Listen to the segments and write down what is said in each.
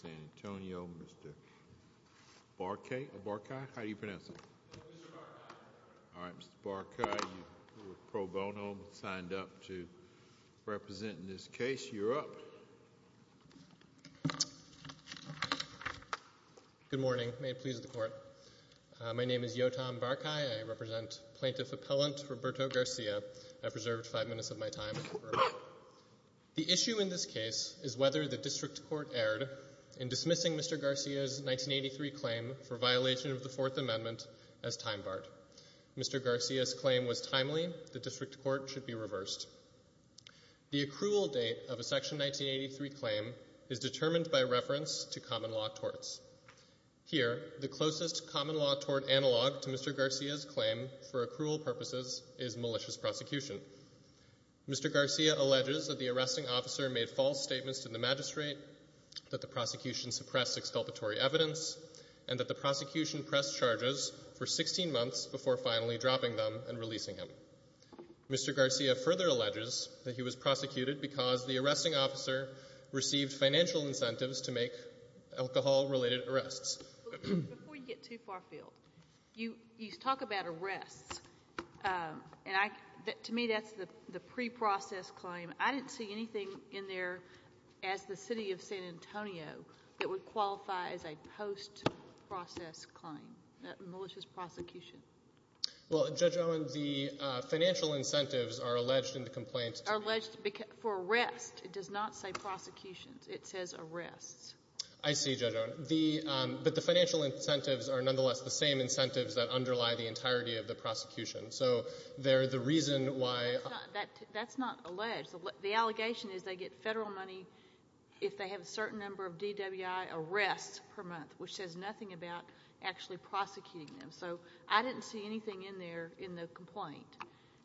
Good morning. May it please the court. My name is Yotam Barkay. I represent Plaintiff Appellant Roberto Garcia. I've reserved five minutes of my time. The issue in this case is whether the District Court erred in dismissing Mr. Garcia's 1983 claim for violation of the Fourth Amendment as time barred. Mr. Garcia's claim was timely. The District Court should be reversed. The accrual date of a Section 1983 claim is determined by reference to common law torts. Here, the closest common law tort analog to Mr. Garcia's claim for accrual purposes is malicious prosecution. Mr. Garcia alleges that the arresting officer made false statements to the magistrate, that the prosecution suppressed exculpatory evidence, and that the prosecution pressed charges for 16 months before finally dropping them and releasing him. Mr. Garcia further alleges that he was prosecuted because the arresting officer received financial incentives to make alcohol-related arrests. Before you get too far afield, you talk about arrests. To me, that's the pre-process claim. I didn't see anything in there as the City of San Antonio that would qualify as a post-process claim, malicious prosecution. Judge Owen, the financial incentives are alleged in the complaint. Are alleged for arrests. It does not say prosecutions. It says arrests. I see, Judge Owen. But the financial incentives are nonetheless the same incentives that underlie the entirety of the prosecution. So they're the reason why... That's not alleged. The allegation is they get federal money if they have a certain number of DWI arrests per month, which says nothing about actually prosecuting them. So I didn't see anything in there in the complaint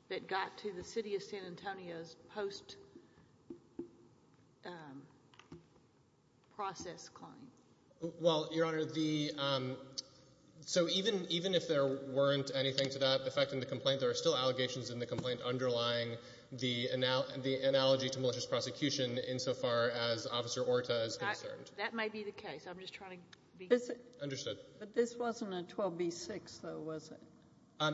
that got to the City of San Antonio's post-process claim. Well, Your Honor, so even if there weren't anything to that effect in the complaint, there are still allegations in the complaint underlying the analogy to malicious prosecution insofar as Officer Orta is concerned. That may be the case. I'm just trying to be... But this wasn't a 12b-6, though, was it?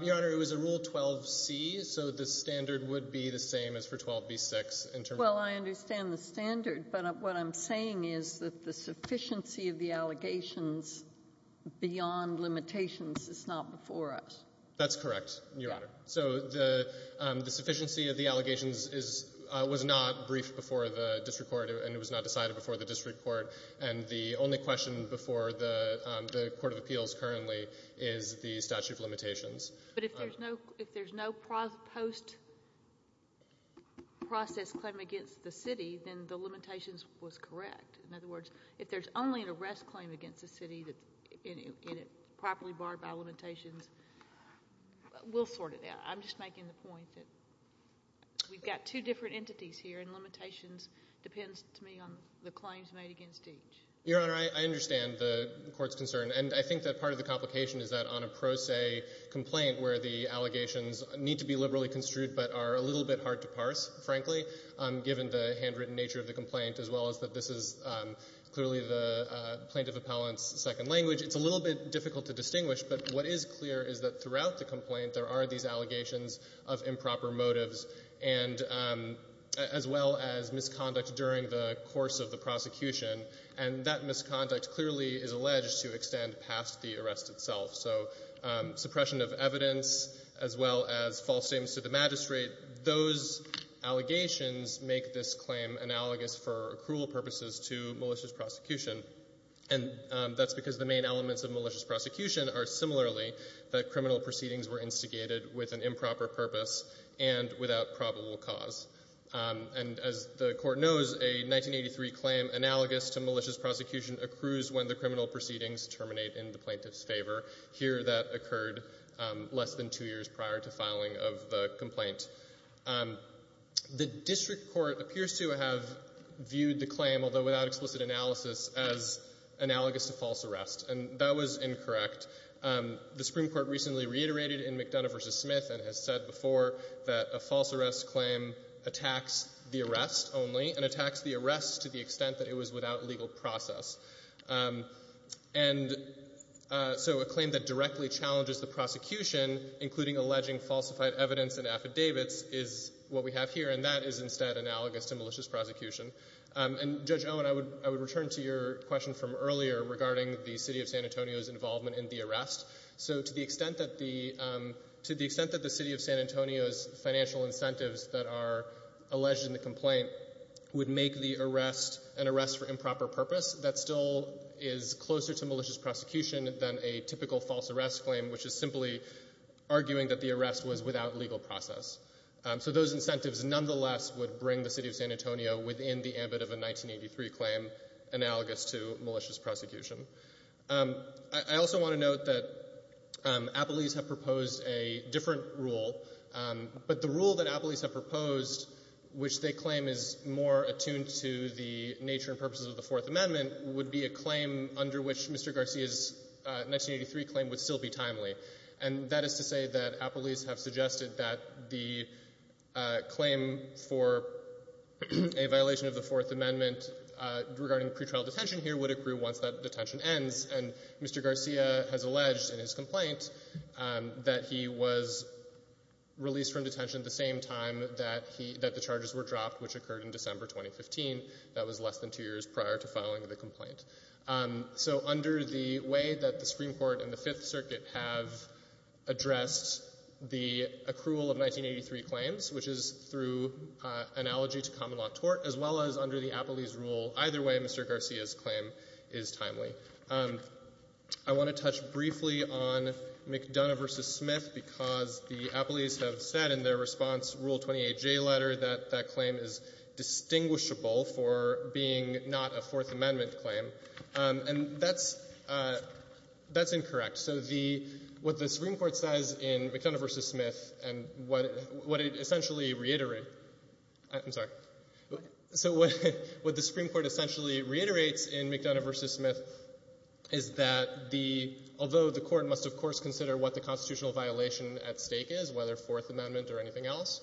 Your Honor, it was a Rule 12c, so the standard would be the same as for 12b-6. Well, I understand the standard, but what I'm saying is that the sufficiency of the allegations beyond limitations is not before us. That's correct, Your Honor. So the sufficiency of the allegations is — was not briefed before the district court, and it was not decided before the district court. And the only question before the Court of Appeals currently is the statute of limitations. But if there's no post-process claim against the City, then the limitations was correct. In other words, if there's only an arrest claim against the City that's properly barred by limitations, we'll sort it out. I'm just making the point that we've got two different entities here and limitations depends, to me, on the claims made against each. Your Honor, I understand the Court's concern, and I think that part of the complication is that on a pro se complaint where the allegations need to be liberally construed but are a little bit hard to parse, frankly, given the handwritten nature of the complaint, as well as that this is clearly the plaintiff appellant's second language, it's a little bit difficult to distinguish. But what is clear is that throughout the complaint there are these allegations of improper motives and as well as misconduct during the course of the prosecution. And that misconduct clearly is alleged to extend past the arrest itself. So suppression of evidence as well as false statements to the magistrate, those allegations make this claim analogous for accrual purposes to malicious prosecution. And that's because the main elements of malicious prosecution are similarly that criminal proceedings were instigated with an improper purpose and without probable cause. And as the Court knows, a 1983 claim analogous to malicious prosecution accrues when the criminal proceedings terminate in the plaintiff's favor. Here that occurred less than two years prior to filing of the complaint. The District Court appears to have viewed the claim, although without explicit analysis, as analogous to false arrest. And that was incorrect. The Supreme Court recently reiterated in McDonough v. Smith and has said before that a false arrest claim attacks the arrest only and attacks the arrest to the extent that it was without legal process. And so a claim that directly challenges the prosecution, including alleging falsified evidence and affidavits, is what we have here. And that is instead analogous to malicious prosecution. And, Judge Owen, I would return to your question from earlier regarding the City of San Antonio's involvement in the arrest. So to the extent that the City of San Antonio's financial incentives that are alleged in the complaint would make the arrest an arrest for improper purpose, that still is closer to malicious prosecution than a typical false arrest claim, which is simply arguing that the arrest was without legal process. So those incentives nonetheless would bring the City of San Antonio within the ambit of a 1983 claim analogous to malicious prosecution. I also want to note that Appellees have proposed a different rule, but the rule that Appellees have proposed, which they claim is more attuned to the nature and purposes of the Fourth Amendment, would be a claim under which Mr. Garcia's 1983 claim would still be timely. And that is to say that Appellees have suggested that the claim for a violation of the Fourth Amendment regarding pretrial detention here would accrue once that detention ends. And Mr. Garcia has alleged in his complaint that he was released from detention at the same time that he — that the charges were dropped, which occurred in December 2015. That was less than two years prior to filing the complaint. So under the way that the Supreme Court and the Fifth Circuit have addressed the accrual of 1983 claims, which is through analogy to common-law tort, as well as under the Appellee's rule, either way Mr. Garcia's claim is timely. I want to touch briefly on McDonough v. Smith because the Appellees have said in their response, Rule 28J letter, that that claim is distinguishable for being not a Fourth Amendment claim. And that's — that's incorrect. So the — what the Supreme Court says in McDonough v. Smith and what — what it essentially reiterates — I'm sorry. So what — what the Supreme Court essentially reiterates in McDonough v. Smith is that the — although the Court must, of course, consider what the constitutional violation at stake is, whether Fourth Amendment or anything else,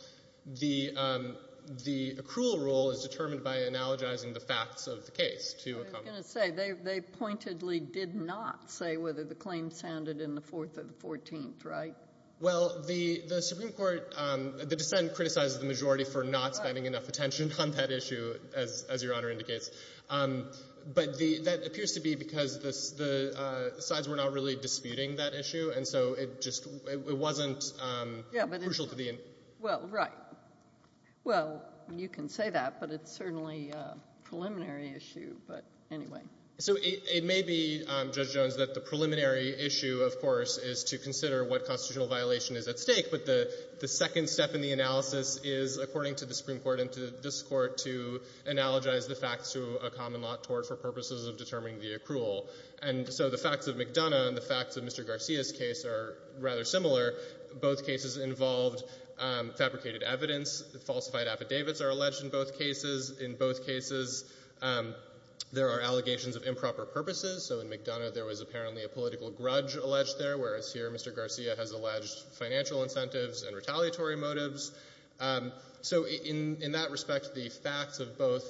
the — the accrual rule is determined by analogizing the facts of the case to a common law. I was going to say, they — they pointedly did not say whether the claim sounded in the Fourth or the Fourteenth, right? Well, the — the Supreme Court — the dissent criticized the majority for not spending enough attention on that issue, as — as Your Honor indicates. But the — that appears to be because the — the sides were not really disputing that issue, and so it just — it wasn't crucial to the — Yeah, but it's — well, right. Well, you can say that, but it's certainly a preliminary issue. But anyway. So it — it may be, Judge Jones, that the preliminary issue, of course, is to consider what constitutional violation is at stake. But the — the second step in the analysis is, according to the Supreme Court and to this Court, to analogize the facts to a common law tort for purposes of determining the accrual. And so the facts of McDonough and the facts of Mr. Garcia's case are rather similar. Both cases involved fabricated evidence. Falsified affidavits are alleged in both cases. In both cases, there are allegations of improper purposes. So in McDonough, there was apparently a political grudge alleged there, whereas here, Mr. Garcia has alleged financial incentives and retaliatory motives. So in — in that respect, the facts of both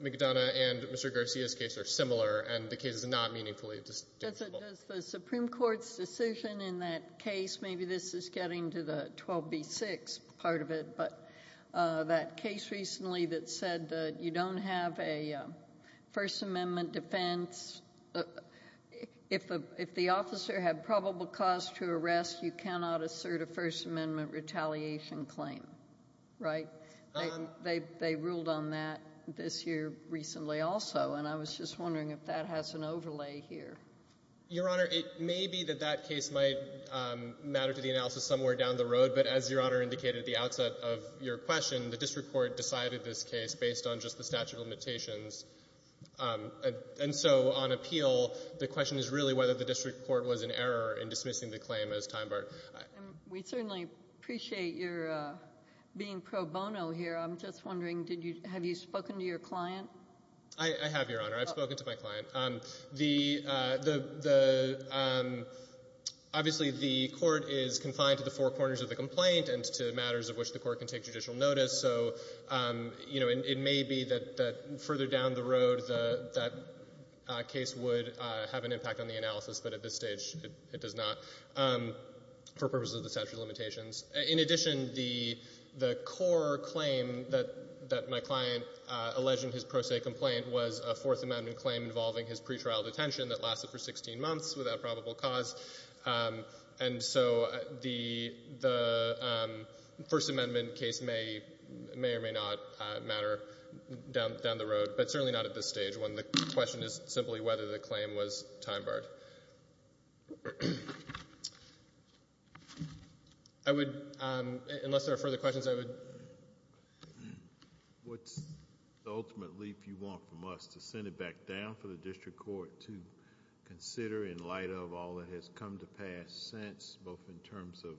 McDonough and Mr. Garcia's case are similar, and the case is not meaningfully distinguishable. Does the Supreme Court's decision in that case — maybe this is getting to the 12b6 part of it, but that case recently that said that you don't have a First Amendment defense, if a — if the officer had probable cause to arrest, you cannot assert a First Amendment retaliation claim, right? They — they ruled on that this year recently also, and I was just wondering if that has an overlay here. Your Honor, it may be that that case might matter to the analysis somewhere down the road. But as Your Honor indicated at the outset of your question, the district court decided this case based on just the statute of limitations. And so on appeal, the question is really whether the district court was in error in dismissing the claim as time-barred. And we certainly appreciate your being pro bono here. I'm just wondering, did you — have you spoken to your client? I have, Your Honor. I've spoken to my client. The — the — the — obviously, the court is confined to the four corners of the complaint and to matters of which the court can take judicial notice. So, you know, it — it may be that — that further down the road, that — that case would have an impact on the analysis. But at this stage, it — it does not for purposes of the statute of limitations. In addition, the — the core claim that — that my client alleged in his pro se complaint was a Fourth Amendment claim involving his pretrial detention that lasted for 16 months without probable cause. And so the — the First Amendment case may — may or may not matter down — down the road, but certainly not at this stage when the question is simply whether the claim was time-barred. I would — unless there are further questions, I would — What's the ultimate leap you want from us to send it back down for the district court to consider in light of all that has come to pass since, both in terms of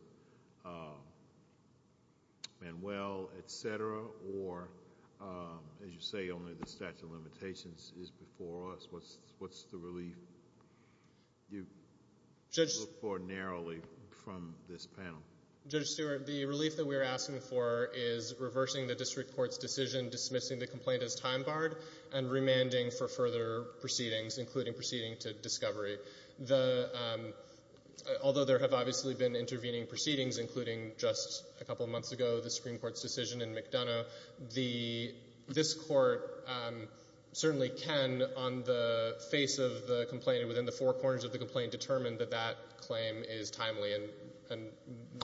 Manuel, et cetera, or, as you say, only the statute of limitations is before us? What's — what's the relief you look for narrowly from this panel? Judge Stewart, the relief that we're asking for is reversing the district court's decision, dismissing the complaint as time-barred, and remanding for further proceedings, including proceeding to discovery. The — although there have obviously been intervening proceedings, including just a couple of months ago, the Supreme Court's decision in McDonough, the — this Court certainly can, on the face of the complaint and within the four corners of the complaint, determine that that claim is timely, and — and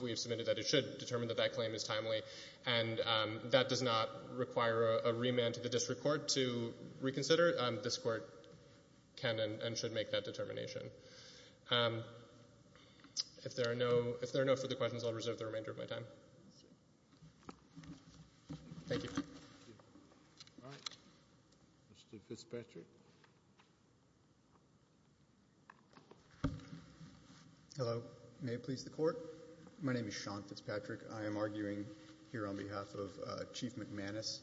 we have submitted that it should determine that that claim is timely, and that does not require a remand to the district court to reconsider. This Court can and should make that determination. If there are no — if there are no further questions, I'll reserve the remainder of my time. Thank you. Thank you. All right. Mr. Fitzpatrick. Hello. May it please the Court? My name is Sean Fitzpatrick. I am arguing here on behalf of Chief McManus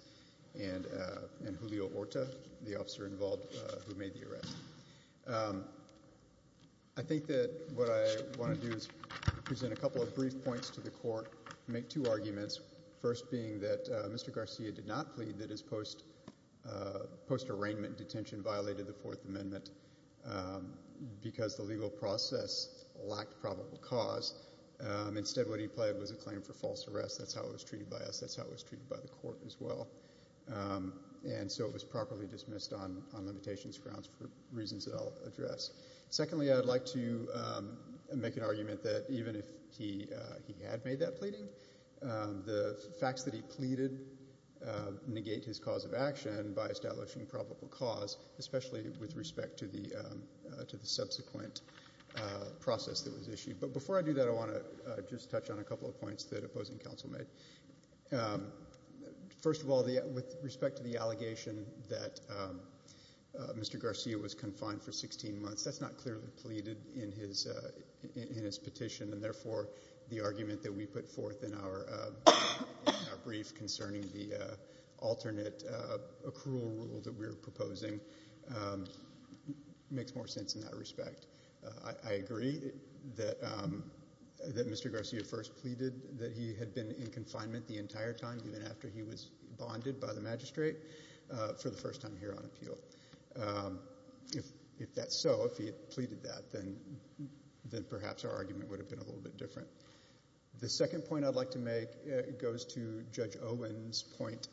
and — and Julio Orta, the officer involved who made the arrest. I think that what I want to do is present a couple of brief points to the Court, make two arguments, first being that Mr. Garcia did not plead that his post — post-arraignment detention violated the Fourth Amendment because the legal process lacked probable cause. Instead, what he pled was a claim for false arrest. That's how it was treated by us. That's how it was treated by the Court as well. And so it was properly dismissed on — on limitations grounds for reasons that I'll address. Secondly, I would like to make an argument that even if he — he had made that pleading, the facts that he pleaded negate his cause of action by establishing probable cause, especially with respect to the — to the subsequent process that was issued. But before I do that, I want to just touch on a couple of points that opposing counsel made. First of all, with respect to the allegation that Mr. Garcia was confined for 16 months, that's not clearly pleaded in his — in his petition. And therefore, the argument that we put forth in our — in our brief concerning the alternate accrual rule that we were proposing makes more sense in that respect. I — I agree that — that Mr. Garcia first pleaded that he had been in confinement the entire time, even after he was bonded by the magistrate, for the first time here on appeal. If — if that's so, if he had pleaded that, then — then perhaps our argument would have been a little bit different. The second point I'd like to make goes to Judge Owen's point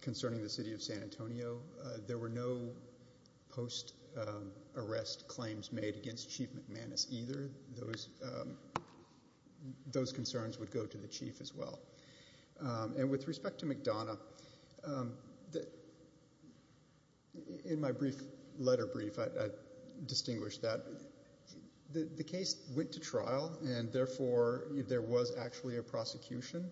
concerning the City of San Antonio. There were no post-arrest claims made against Chief McManus either. Those — those concerns would go to the chief as well. And with respect to McDonough, the — in my brief letter brief, I — I distinguished that the — the case went to trial, and therefore, there was actually a prosecution,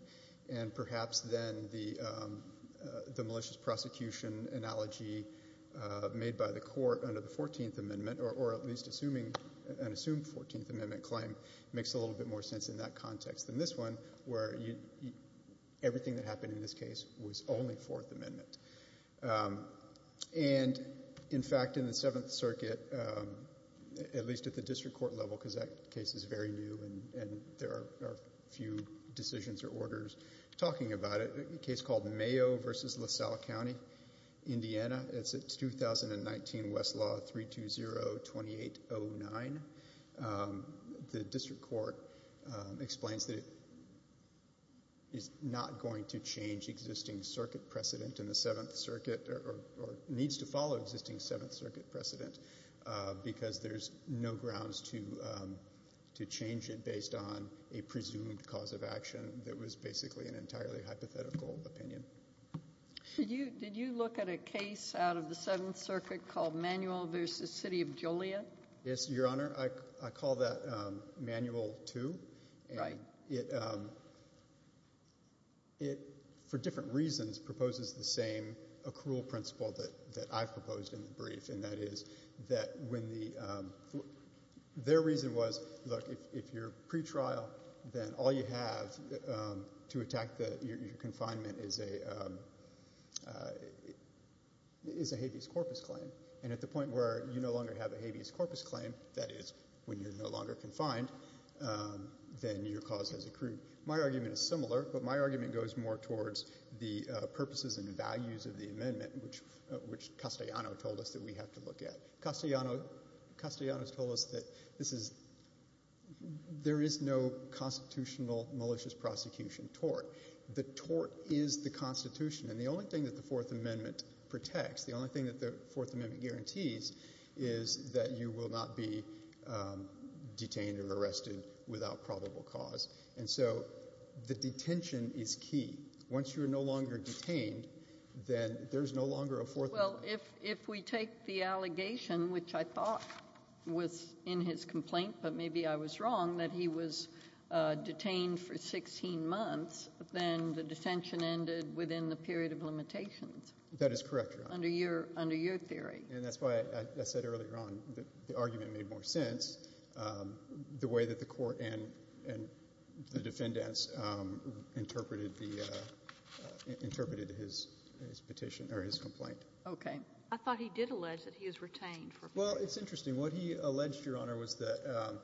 and perhaps then the — the malicious prosecution analogy made by the court under the 14th Amendment, or at least assuming — an assumed 14th Amendment claim, makes a little bit more sense in that context than this one, where you — everything that happened in this case was only Fourth Amendment. And in fact, in the Seventh Circuit, at least at the district court level, because that case is very new and there are few decisions or orders talking about it, a case called Mayo v. LaSalle County, Indiana. It's a 2019 Westlaw 320-2809. The district court explains that it is not going to change existing circuit precedent in the Seventh Circuit, or needs to follow existing Seventh Circuit precedent, because there's no grounds to — to change it based on a presumed cause of action that was basically an entirely hypothetical opinion. Did you — did you look at a case out of the Seventh Circuit called Manuel v. City of Joliet? Yes, Your Honor. I — I call that Manual 2. Right. And it — it, for different reasons, proposes the same accrual principle that — that when the — their reason was, look, if you're pretrial, then all you have to attack the — your confinement is a — is a habeas corpus claim. And at the point where you no longer have a habeas corpus claim, that is when you're no longer confined, then your cause has accrued. My argument is similar, but my argument goes more towards the purposes and values of the amendment, which — which Castellano told us that we have to look at. Castellano — Castellano has told us that this is — there is no constitutional malicious prosecution tort. The tort is the Constitution. And the only thing that the Fourth Amendment protects, the only thing that the Fourth Amendment guarantees, is that you will not be detained or arrested without probable cause. And so the detention is key. Well, if — if we take the allegation, which I thought was in his complaint, but maybe I was wrong, that he was detained for 16 months, then the detention ended within the period of limitations. That is correct, Your Honor. Under your — under your theory. And that's why I said earlier on that the argument made more sense, the way that the Court and — and the defendants interpreted the — Okay. I thought he did allege that he was retained for — Well, it's interesting. What he alleged, Your Honor, was that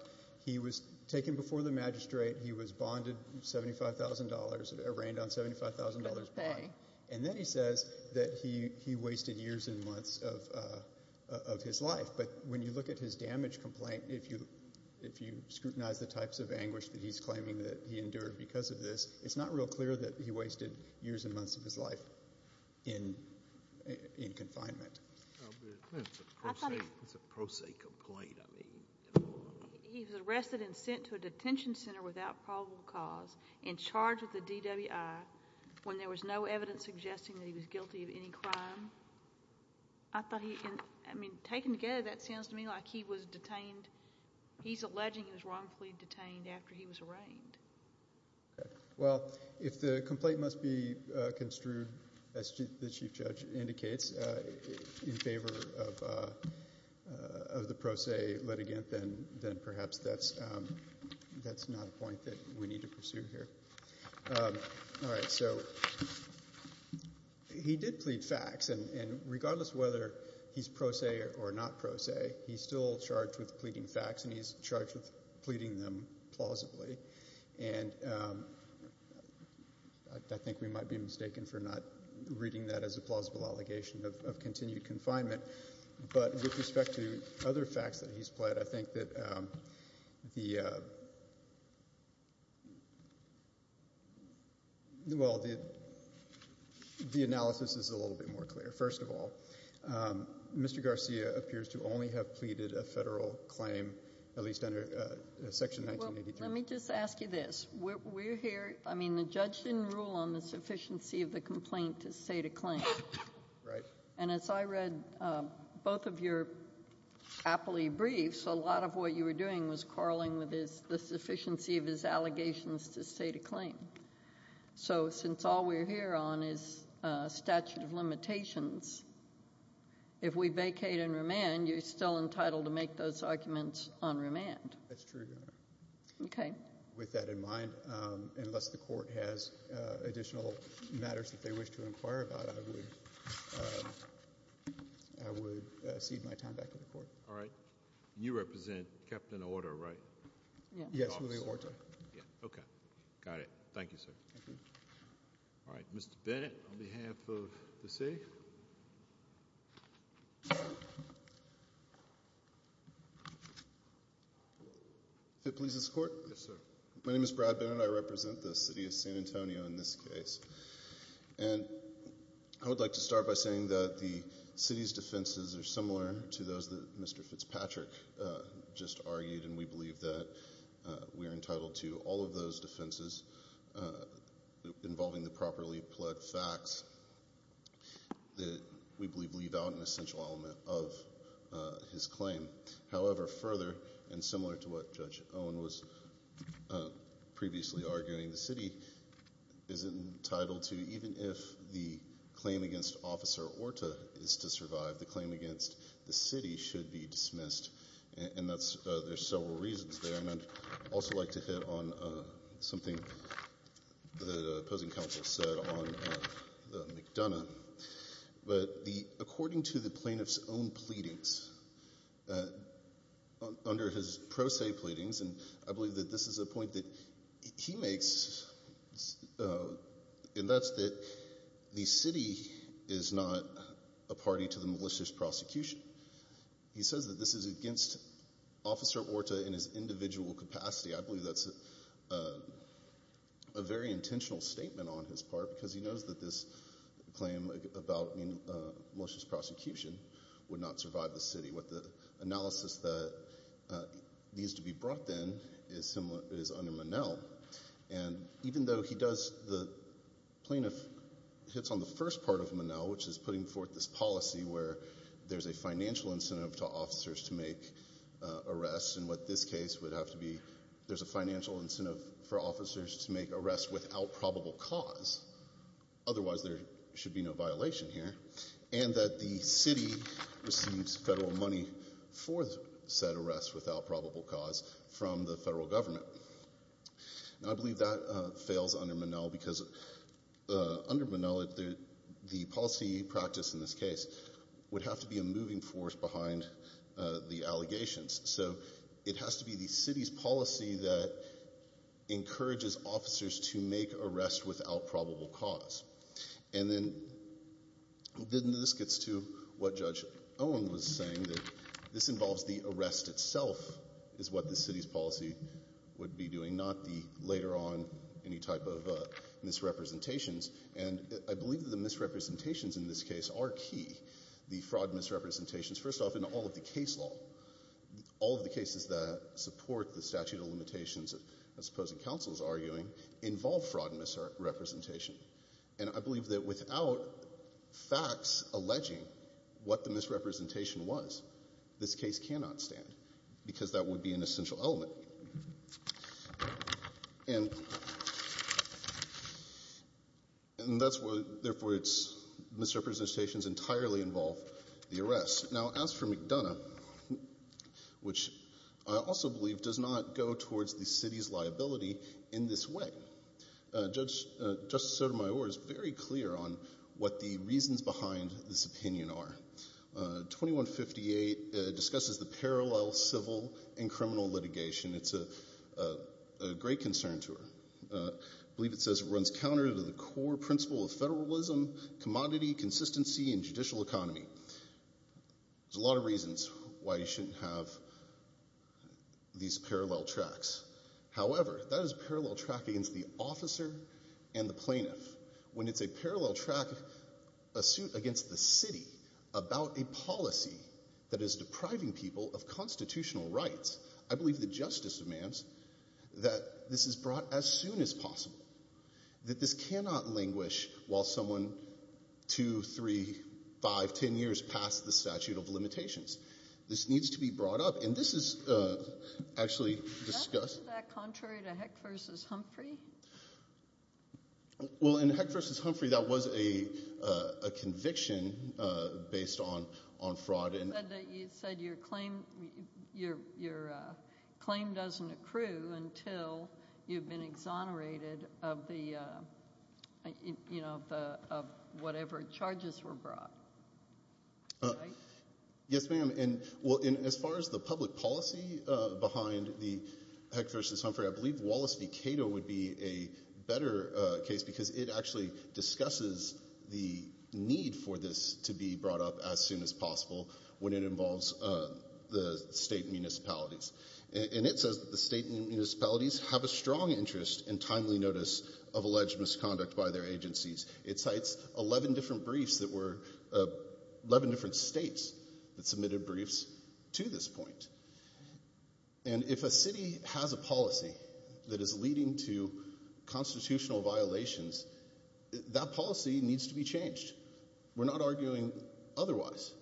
he was taken before the magistrate. He was bonded $75,000 — arraigned on $75,000 bond. Okay. And then he says that he — he wasted years and months of — of his life. But when you look at his damage complaint, if you — if you scrutinize the types of anguish that he's claiming that he endured because of this, it's not real clear that he wasted years and months of his life in — in confinement. I'll be — It's a pro se — I thought he — It's a pro se complaint. I mean — He was arrested and sent to a detention center without probable cause, and charged with a DWI, when there was no evidence suggesting that he was guilty of any crime. I thought he — I mean, taken together, that sounds to me like he was detained — he's alleging he was wrongfully detained after he was arraigned. Okay. Well, if the complaint must be construed, as the chief judge indicates, in favor of — of the pro se litigant, then — then perhaps that's — that's not a point that we need to pursue here. All right. So he did plead facts, and regardless of whether he's pro se or not pro se, he's still charged with pleading facts, and he's charged with pleading them plausibly. And I think we might be mistaken for not reading that as a plausible allegation of continued confinement. But with respect to other facts that he's pled, I think that the — well, the analysis is a little bit more clear. First of all, Mr. Garcia appears to only have pleaded a federal claim, at least under Section 1983. Let me just ask you this. We're here — I mean, the judge didn't rule on the sufficiency of the complaint to state a claim. Right. And as I read both of your appley briefs, a lot of what you were doing was quarreling with his — the sufficiency of his allegations to state a claim. So since all we're here on is statute of limitations, if we vacate and remand, you're still entitled to make those arguments on remand. That's true. Okay. With that in mind, unless the court has additional matters that they wish to inquire about, I would cede my time back to the court. All right. You represent Captain Orta, right? Yes, Louis Orta. Yeah. Okay. Got it. Thank you, sir. Thank you. All right. Mr. Bennett, on behalf of the city. FIT Polices Court? Yes, sir. My name is Brad Bennett. I represent the city of San Antonio in this case. And I would like to start by saying that the city's defenses are similar to those that Mr. Fitzpatrick just argued, and we believe that we are entitled to all of those defenses involving the properly-plugged facts that we believe leave out an essential element of his claim. However, further, and similar to what Judge Owen was previously arguing, the city is entitled to, even if the claim against Officer Orta is to survive, the claim against the city should be dismissed. And there's several reasons there. And I'd also like to hit on something the opposing counsel said on McDonough. But according to the plaintiff's own pleadings, under his pro se pleadings, and I believe that this is a point that he makes, and that's that the city is not a party to the malicious prosecution. He says that this is against Officer Orta in his individual capacity. I believe that's a very intentional statement on his part, because he knows that this claim about malicious prosecution would not survive the city. What the analysis that needs to be brought then is under Monell. And even though he does, the plaintiff hits on the first part of Monell, which is putting forth this policy where there's a financial incentive to officers to make arrests. And what this case would have to be, there's a financial incentive for officers to make arrests without probable cause. Otherwise, there should be no violation here. And that the city receives federal money for said arrests without probable cause from the federal government. And I believe that fails under Monell because under Monell, the policy practice in this case would have to be a moving force behind the allegations. So it has to be the city's policy that encourages officers to make arrests without probable cause. And then this gets to what Judge Owen was saying, that this involves the arrest itself is what the city's policy would be doing, not the later on any type of misrepresentations. And I believe that the misrepresentations in this case are key. The fraud misrepresentations, first off, in all of the case law, all of the cases that support the statute of limitations, as opposed to counsel's arguing, involve fraud misrepresentation. And I believe that without facts alleging what the misrepresentation was, this case cannot stand because that would be an essential element. And that's what, therefore it's misrepresentations entirely involve the arrest. Now, as for McDonough, which I also believe does not go towards the city's liability in this way. Justice Sotomayor is very clear on what the reasons behind this opinion are. 2158 discusses the parallel civil and criminal litigation. It's a great concern to her. I believe it says it runs counter to the core principle of federalism, commodity, consistency, and judicial economy. There's a lot of reasons why you shouldn't have these parallel tracks. However, that is a parallel track against the officer and the plaintiff. When it's a parallel track, a suit against the city about a policy that is depriving people of constitutional rights, I believe the justice demands that this is brought as soon as possible, that this cannot languish while someone two, three, five, 10 years past the statute of limitations. This needs to be brought up. And this is actually discussed. Is that contrary to Heck versus Humphrey? Well, in Heck versus Humphrey, that was a conviction based on fraud. You said your claim doesn't accrue until you've been exonerated of whatever charges were brought, right? Yes, ma'am. As far as the public policy behind the Heck versus Humphrey, I believe Wallace v. Cato would be a better case because it actually discusses the need for this to be brought up as soon as possible when it involves the state municipalities. And it says that the state municipalities have a strong interest in timely notice of alleged misconduct by their agencies. It cites 11 different states that submitted briefs to this point. And if a city has a policy that is leading to constitutional violations, that policy needs to be changed. We're not arguing otherwise.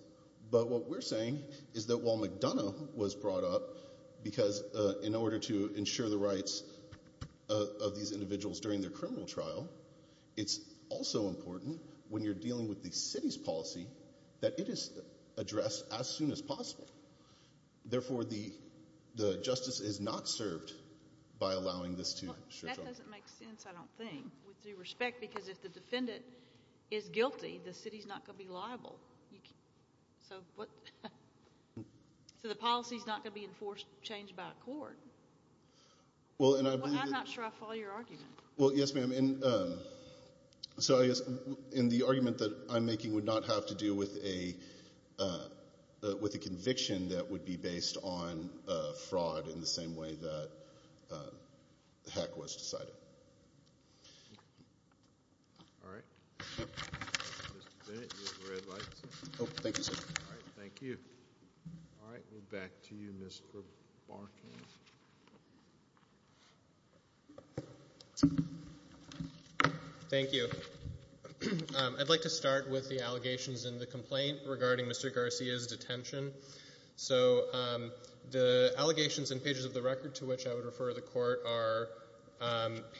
But what we're saying is that while McDonough was brought up because in order to ensure the rights of these individuals during their criminal trial, it's also important when you're dealing with the city's policy that it is addressed as soon as possible. Therefore, the justice is not served by allowing this to stretch on. That doesn't make sense, I don't think, with due respect, because if the defendant is guilty, the city is not going to be liable. So what? So the policy is not going to be enforced, changed by a court. Well, and I believe that. I'm not sure I follow your argument. Well, yes, ma'am. And so I guess in the argument that I'm making would not have to do with a conviction that would be based on fraud in the same way that the hack was decided. All right. Mr. Bennett, you have red lights. Oh, thank you, sir. All right, thank you. All right, we'll back to you, Mr. Barton. Thank you. I'd like to start with the allegations in the complaint regarding Mr. Garcia's detention. So the allegations in pages of the record to which I would refer the court are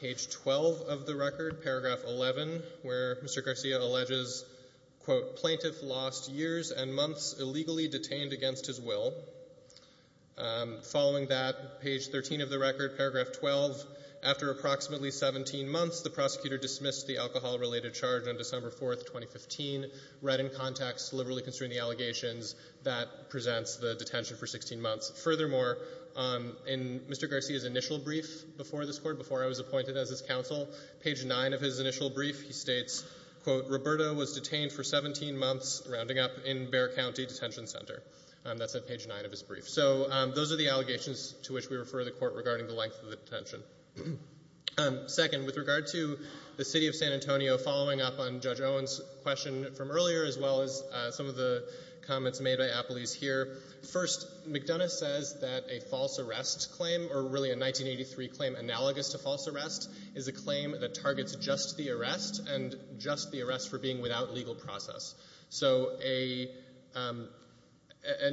page 12 of the record, paragraph 11, where Mr. Garcia alleges, quote, plaintiff lost years and months illegally detained against his will. Following that, page 13 of the record, paragraph 12, after approximately 17 months, the prosecutor dismissed the alcohol-related charge on December 4, 2015, read in context, liberally constrained the allegations, that presents the detention for 16 months. Furthermore, in Mr. Garcia's initial brief before this Court, before I was appointed as his counsel, page 9 of his initial brief, he states, quote, Roberto was detained for 17 months, rounding up, in Bexar County Detention Center. That's at page 9 of his brief. So those are the allegations to which we refer the court regarding the length of the detention. Second, with regard to the city of San Antonio, following up on Judge Owen's question from earlier, as well as some of the comments made by Appley's here, first, McDonough says that a false arrest claim, or really a 1983 claim analogous to false arrest, is a claim that targets just the arrest and just the arrest for being without legal process. So an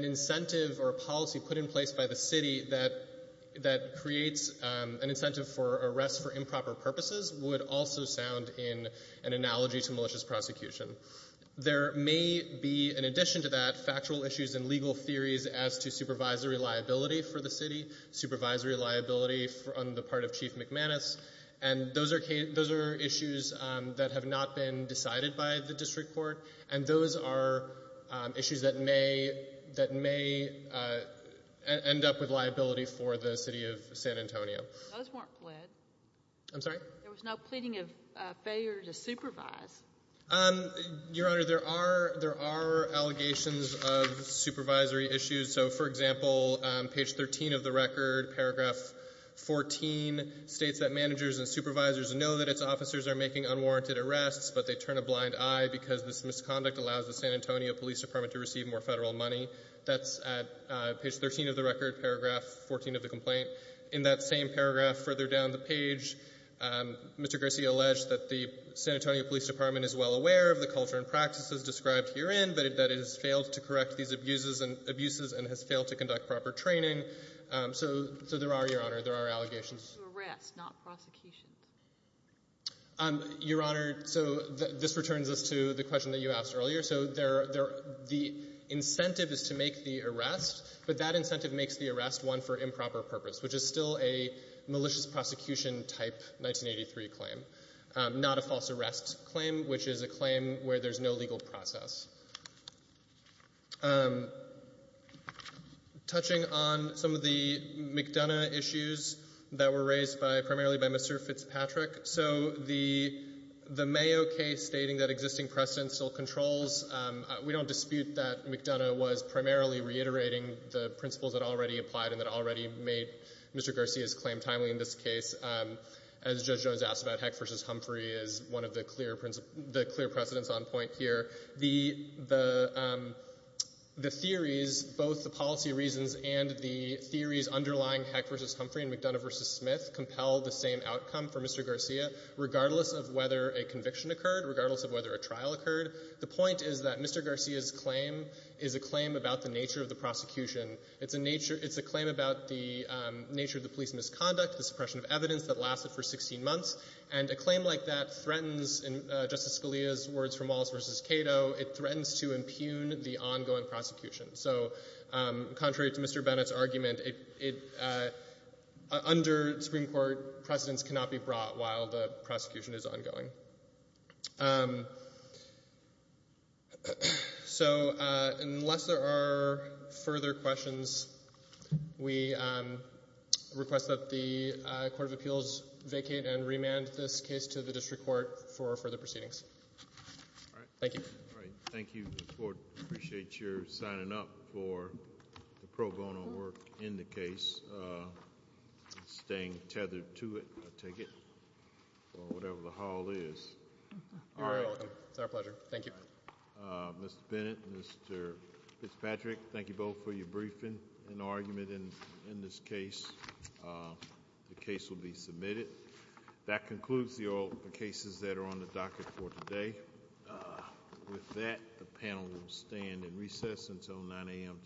incentive or a policy put in place by the city that creates an incentive for arrest for improper purposes would also sound in an analogy to malicious prosecution. There may be, in addition to that, factual issues and legal theories as to supervisory liability for the city, supervisory liability on the part of Chief McManus, and those are issues that have not been decided by the district court, and those are issues that may... end up with liability for the city of San Antonio. Those weren't pled. I'm sorry? There was no pleading of failure to supervise. Um, Your Honor, there are allegations of supervisory issues. So, for example, page 13 of the record, paragraph 14, states that managers and supervisors know that its officers are making unwarranted arrests, but they turn a blind eye because this misconduct allows the San Antonio Police Department to receive more federal money. That's at page 13 of the record, paragraph 14 of the complaint. In that same paragraph further down the page, Mr. Garcia alleged that the San Antonio Police Department is well aware of the culture and practices described herein, but that it has failed to correct these abuses and has failed to conduct proper training. So there are, Your Honor, there are allegations. Arrests, not prosecutions. Your Honor, so this returns us to the question that you asked earlier. So the incentive is to make the arrest, but that incentive makes the arrest one for improper purpose, which is still a malicious prosecution type 1983 claim, not a false arrest claim, which is a claim where there's no legal process. Touching on some of the McDonough issues that were raised primarily by Mr. Fitzpatrick, so the Mayo case stating that existing precedent still controls, we don't dispute that McDonough was primarily reiterating the principles that already applied and that already made Mr. Garcia's claim timely in this case. As Judge Jones asked about Heck v. Humphrey as one of the clear precedents on point here, the theories, both the policy reasons and the theories underlying Heck v. Humphrey and McDonough v. Smith compel the same outcome for Mr. Garcia regardless of whether a conviction occurred, regardless of whether a trial occurred. The point is that Mr. Garcia's claim is a claim about the nature of the prosecution. It's a claim about the nature of the police misconduct, the suppression of evidence that lasted for 16 months, and a claim like that threatens, in Justice Scalia's words from Wallace v. Cato, it threatens to impugn the ongoing prosecution. So contrary to Mr. Bennett's argument, under Supreme Court precedents cannot be brought while the prosecution is ongoing. Um... So, uh, unless there are further questions, we, um, request that the Court of Appeals vacate and remand this case to the district court for further proceedings. All right. Thank you. All right, thank you. I appreciate your signing up for the pro bono work in the case, uh, staying tethered to it, I take it, or whatever the hall is. You're welcome. It's our pleasure. Thank you. Uh, Mr. Bennett, Mr. Fitzpatrick, thank you both for your briefing and argument in this case. Uh, the case will be submitted. That concludes all the cases that are on the docket for today. Uh, with that, the panel will stand in recess until 9 a.m. tomorrow. Thank you.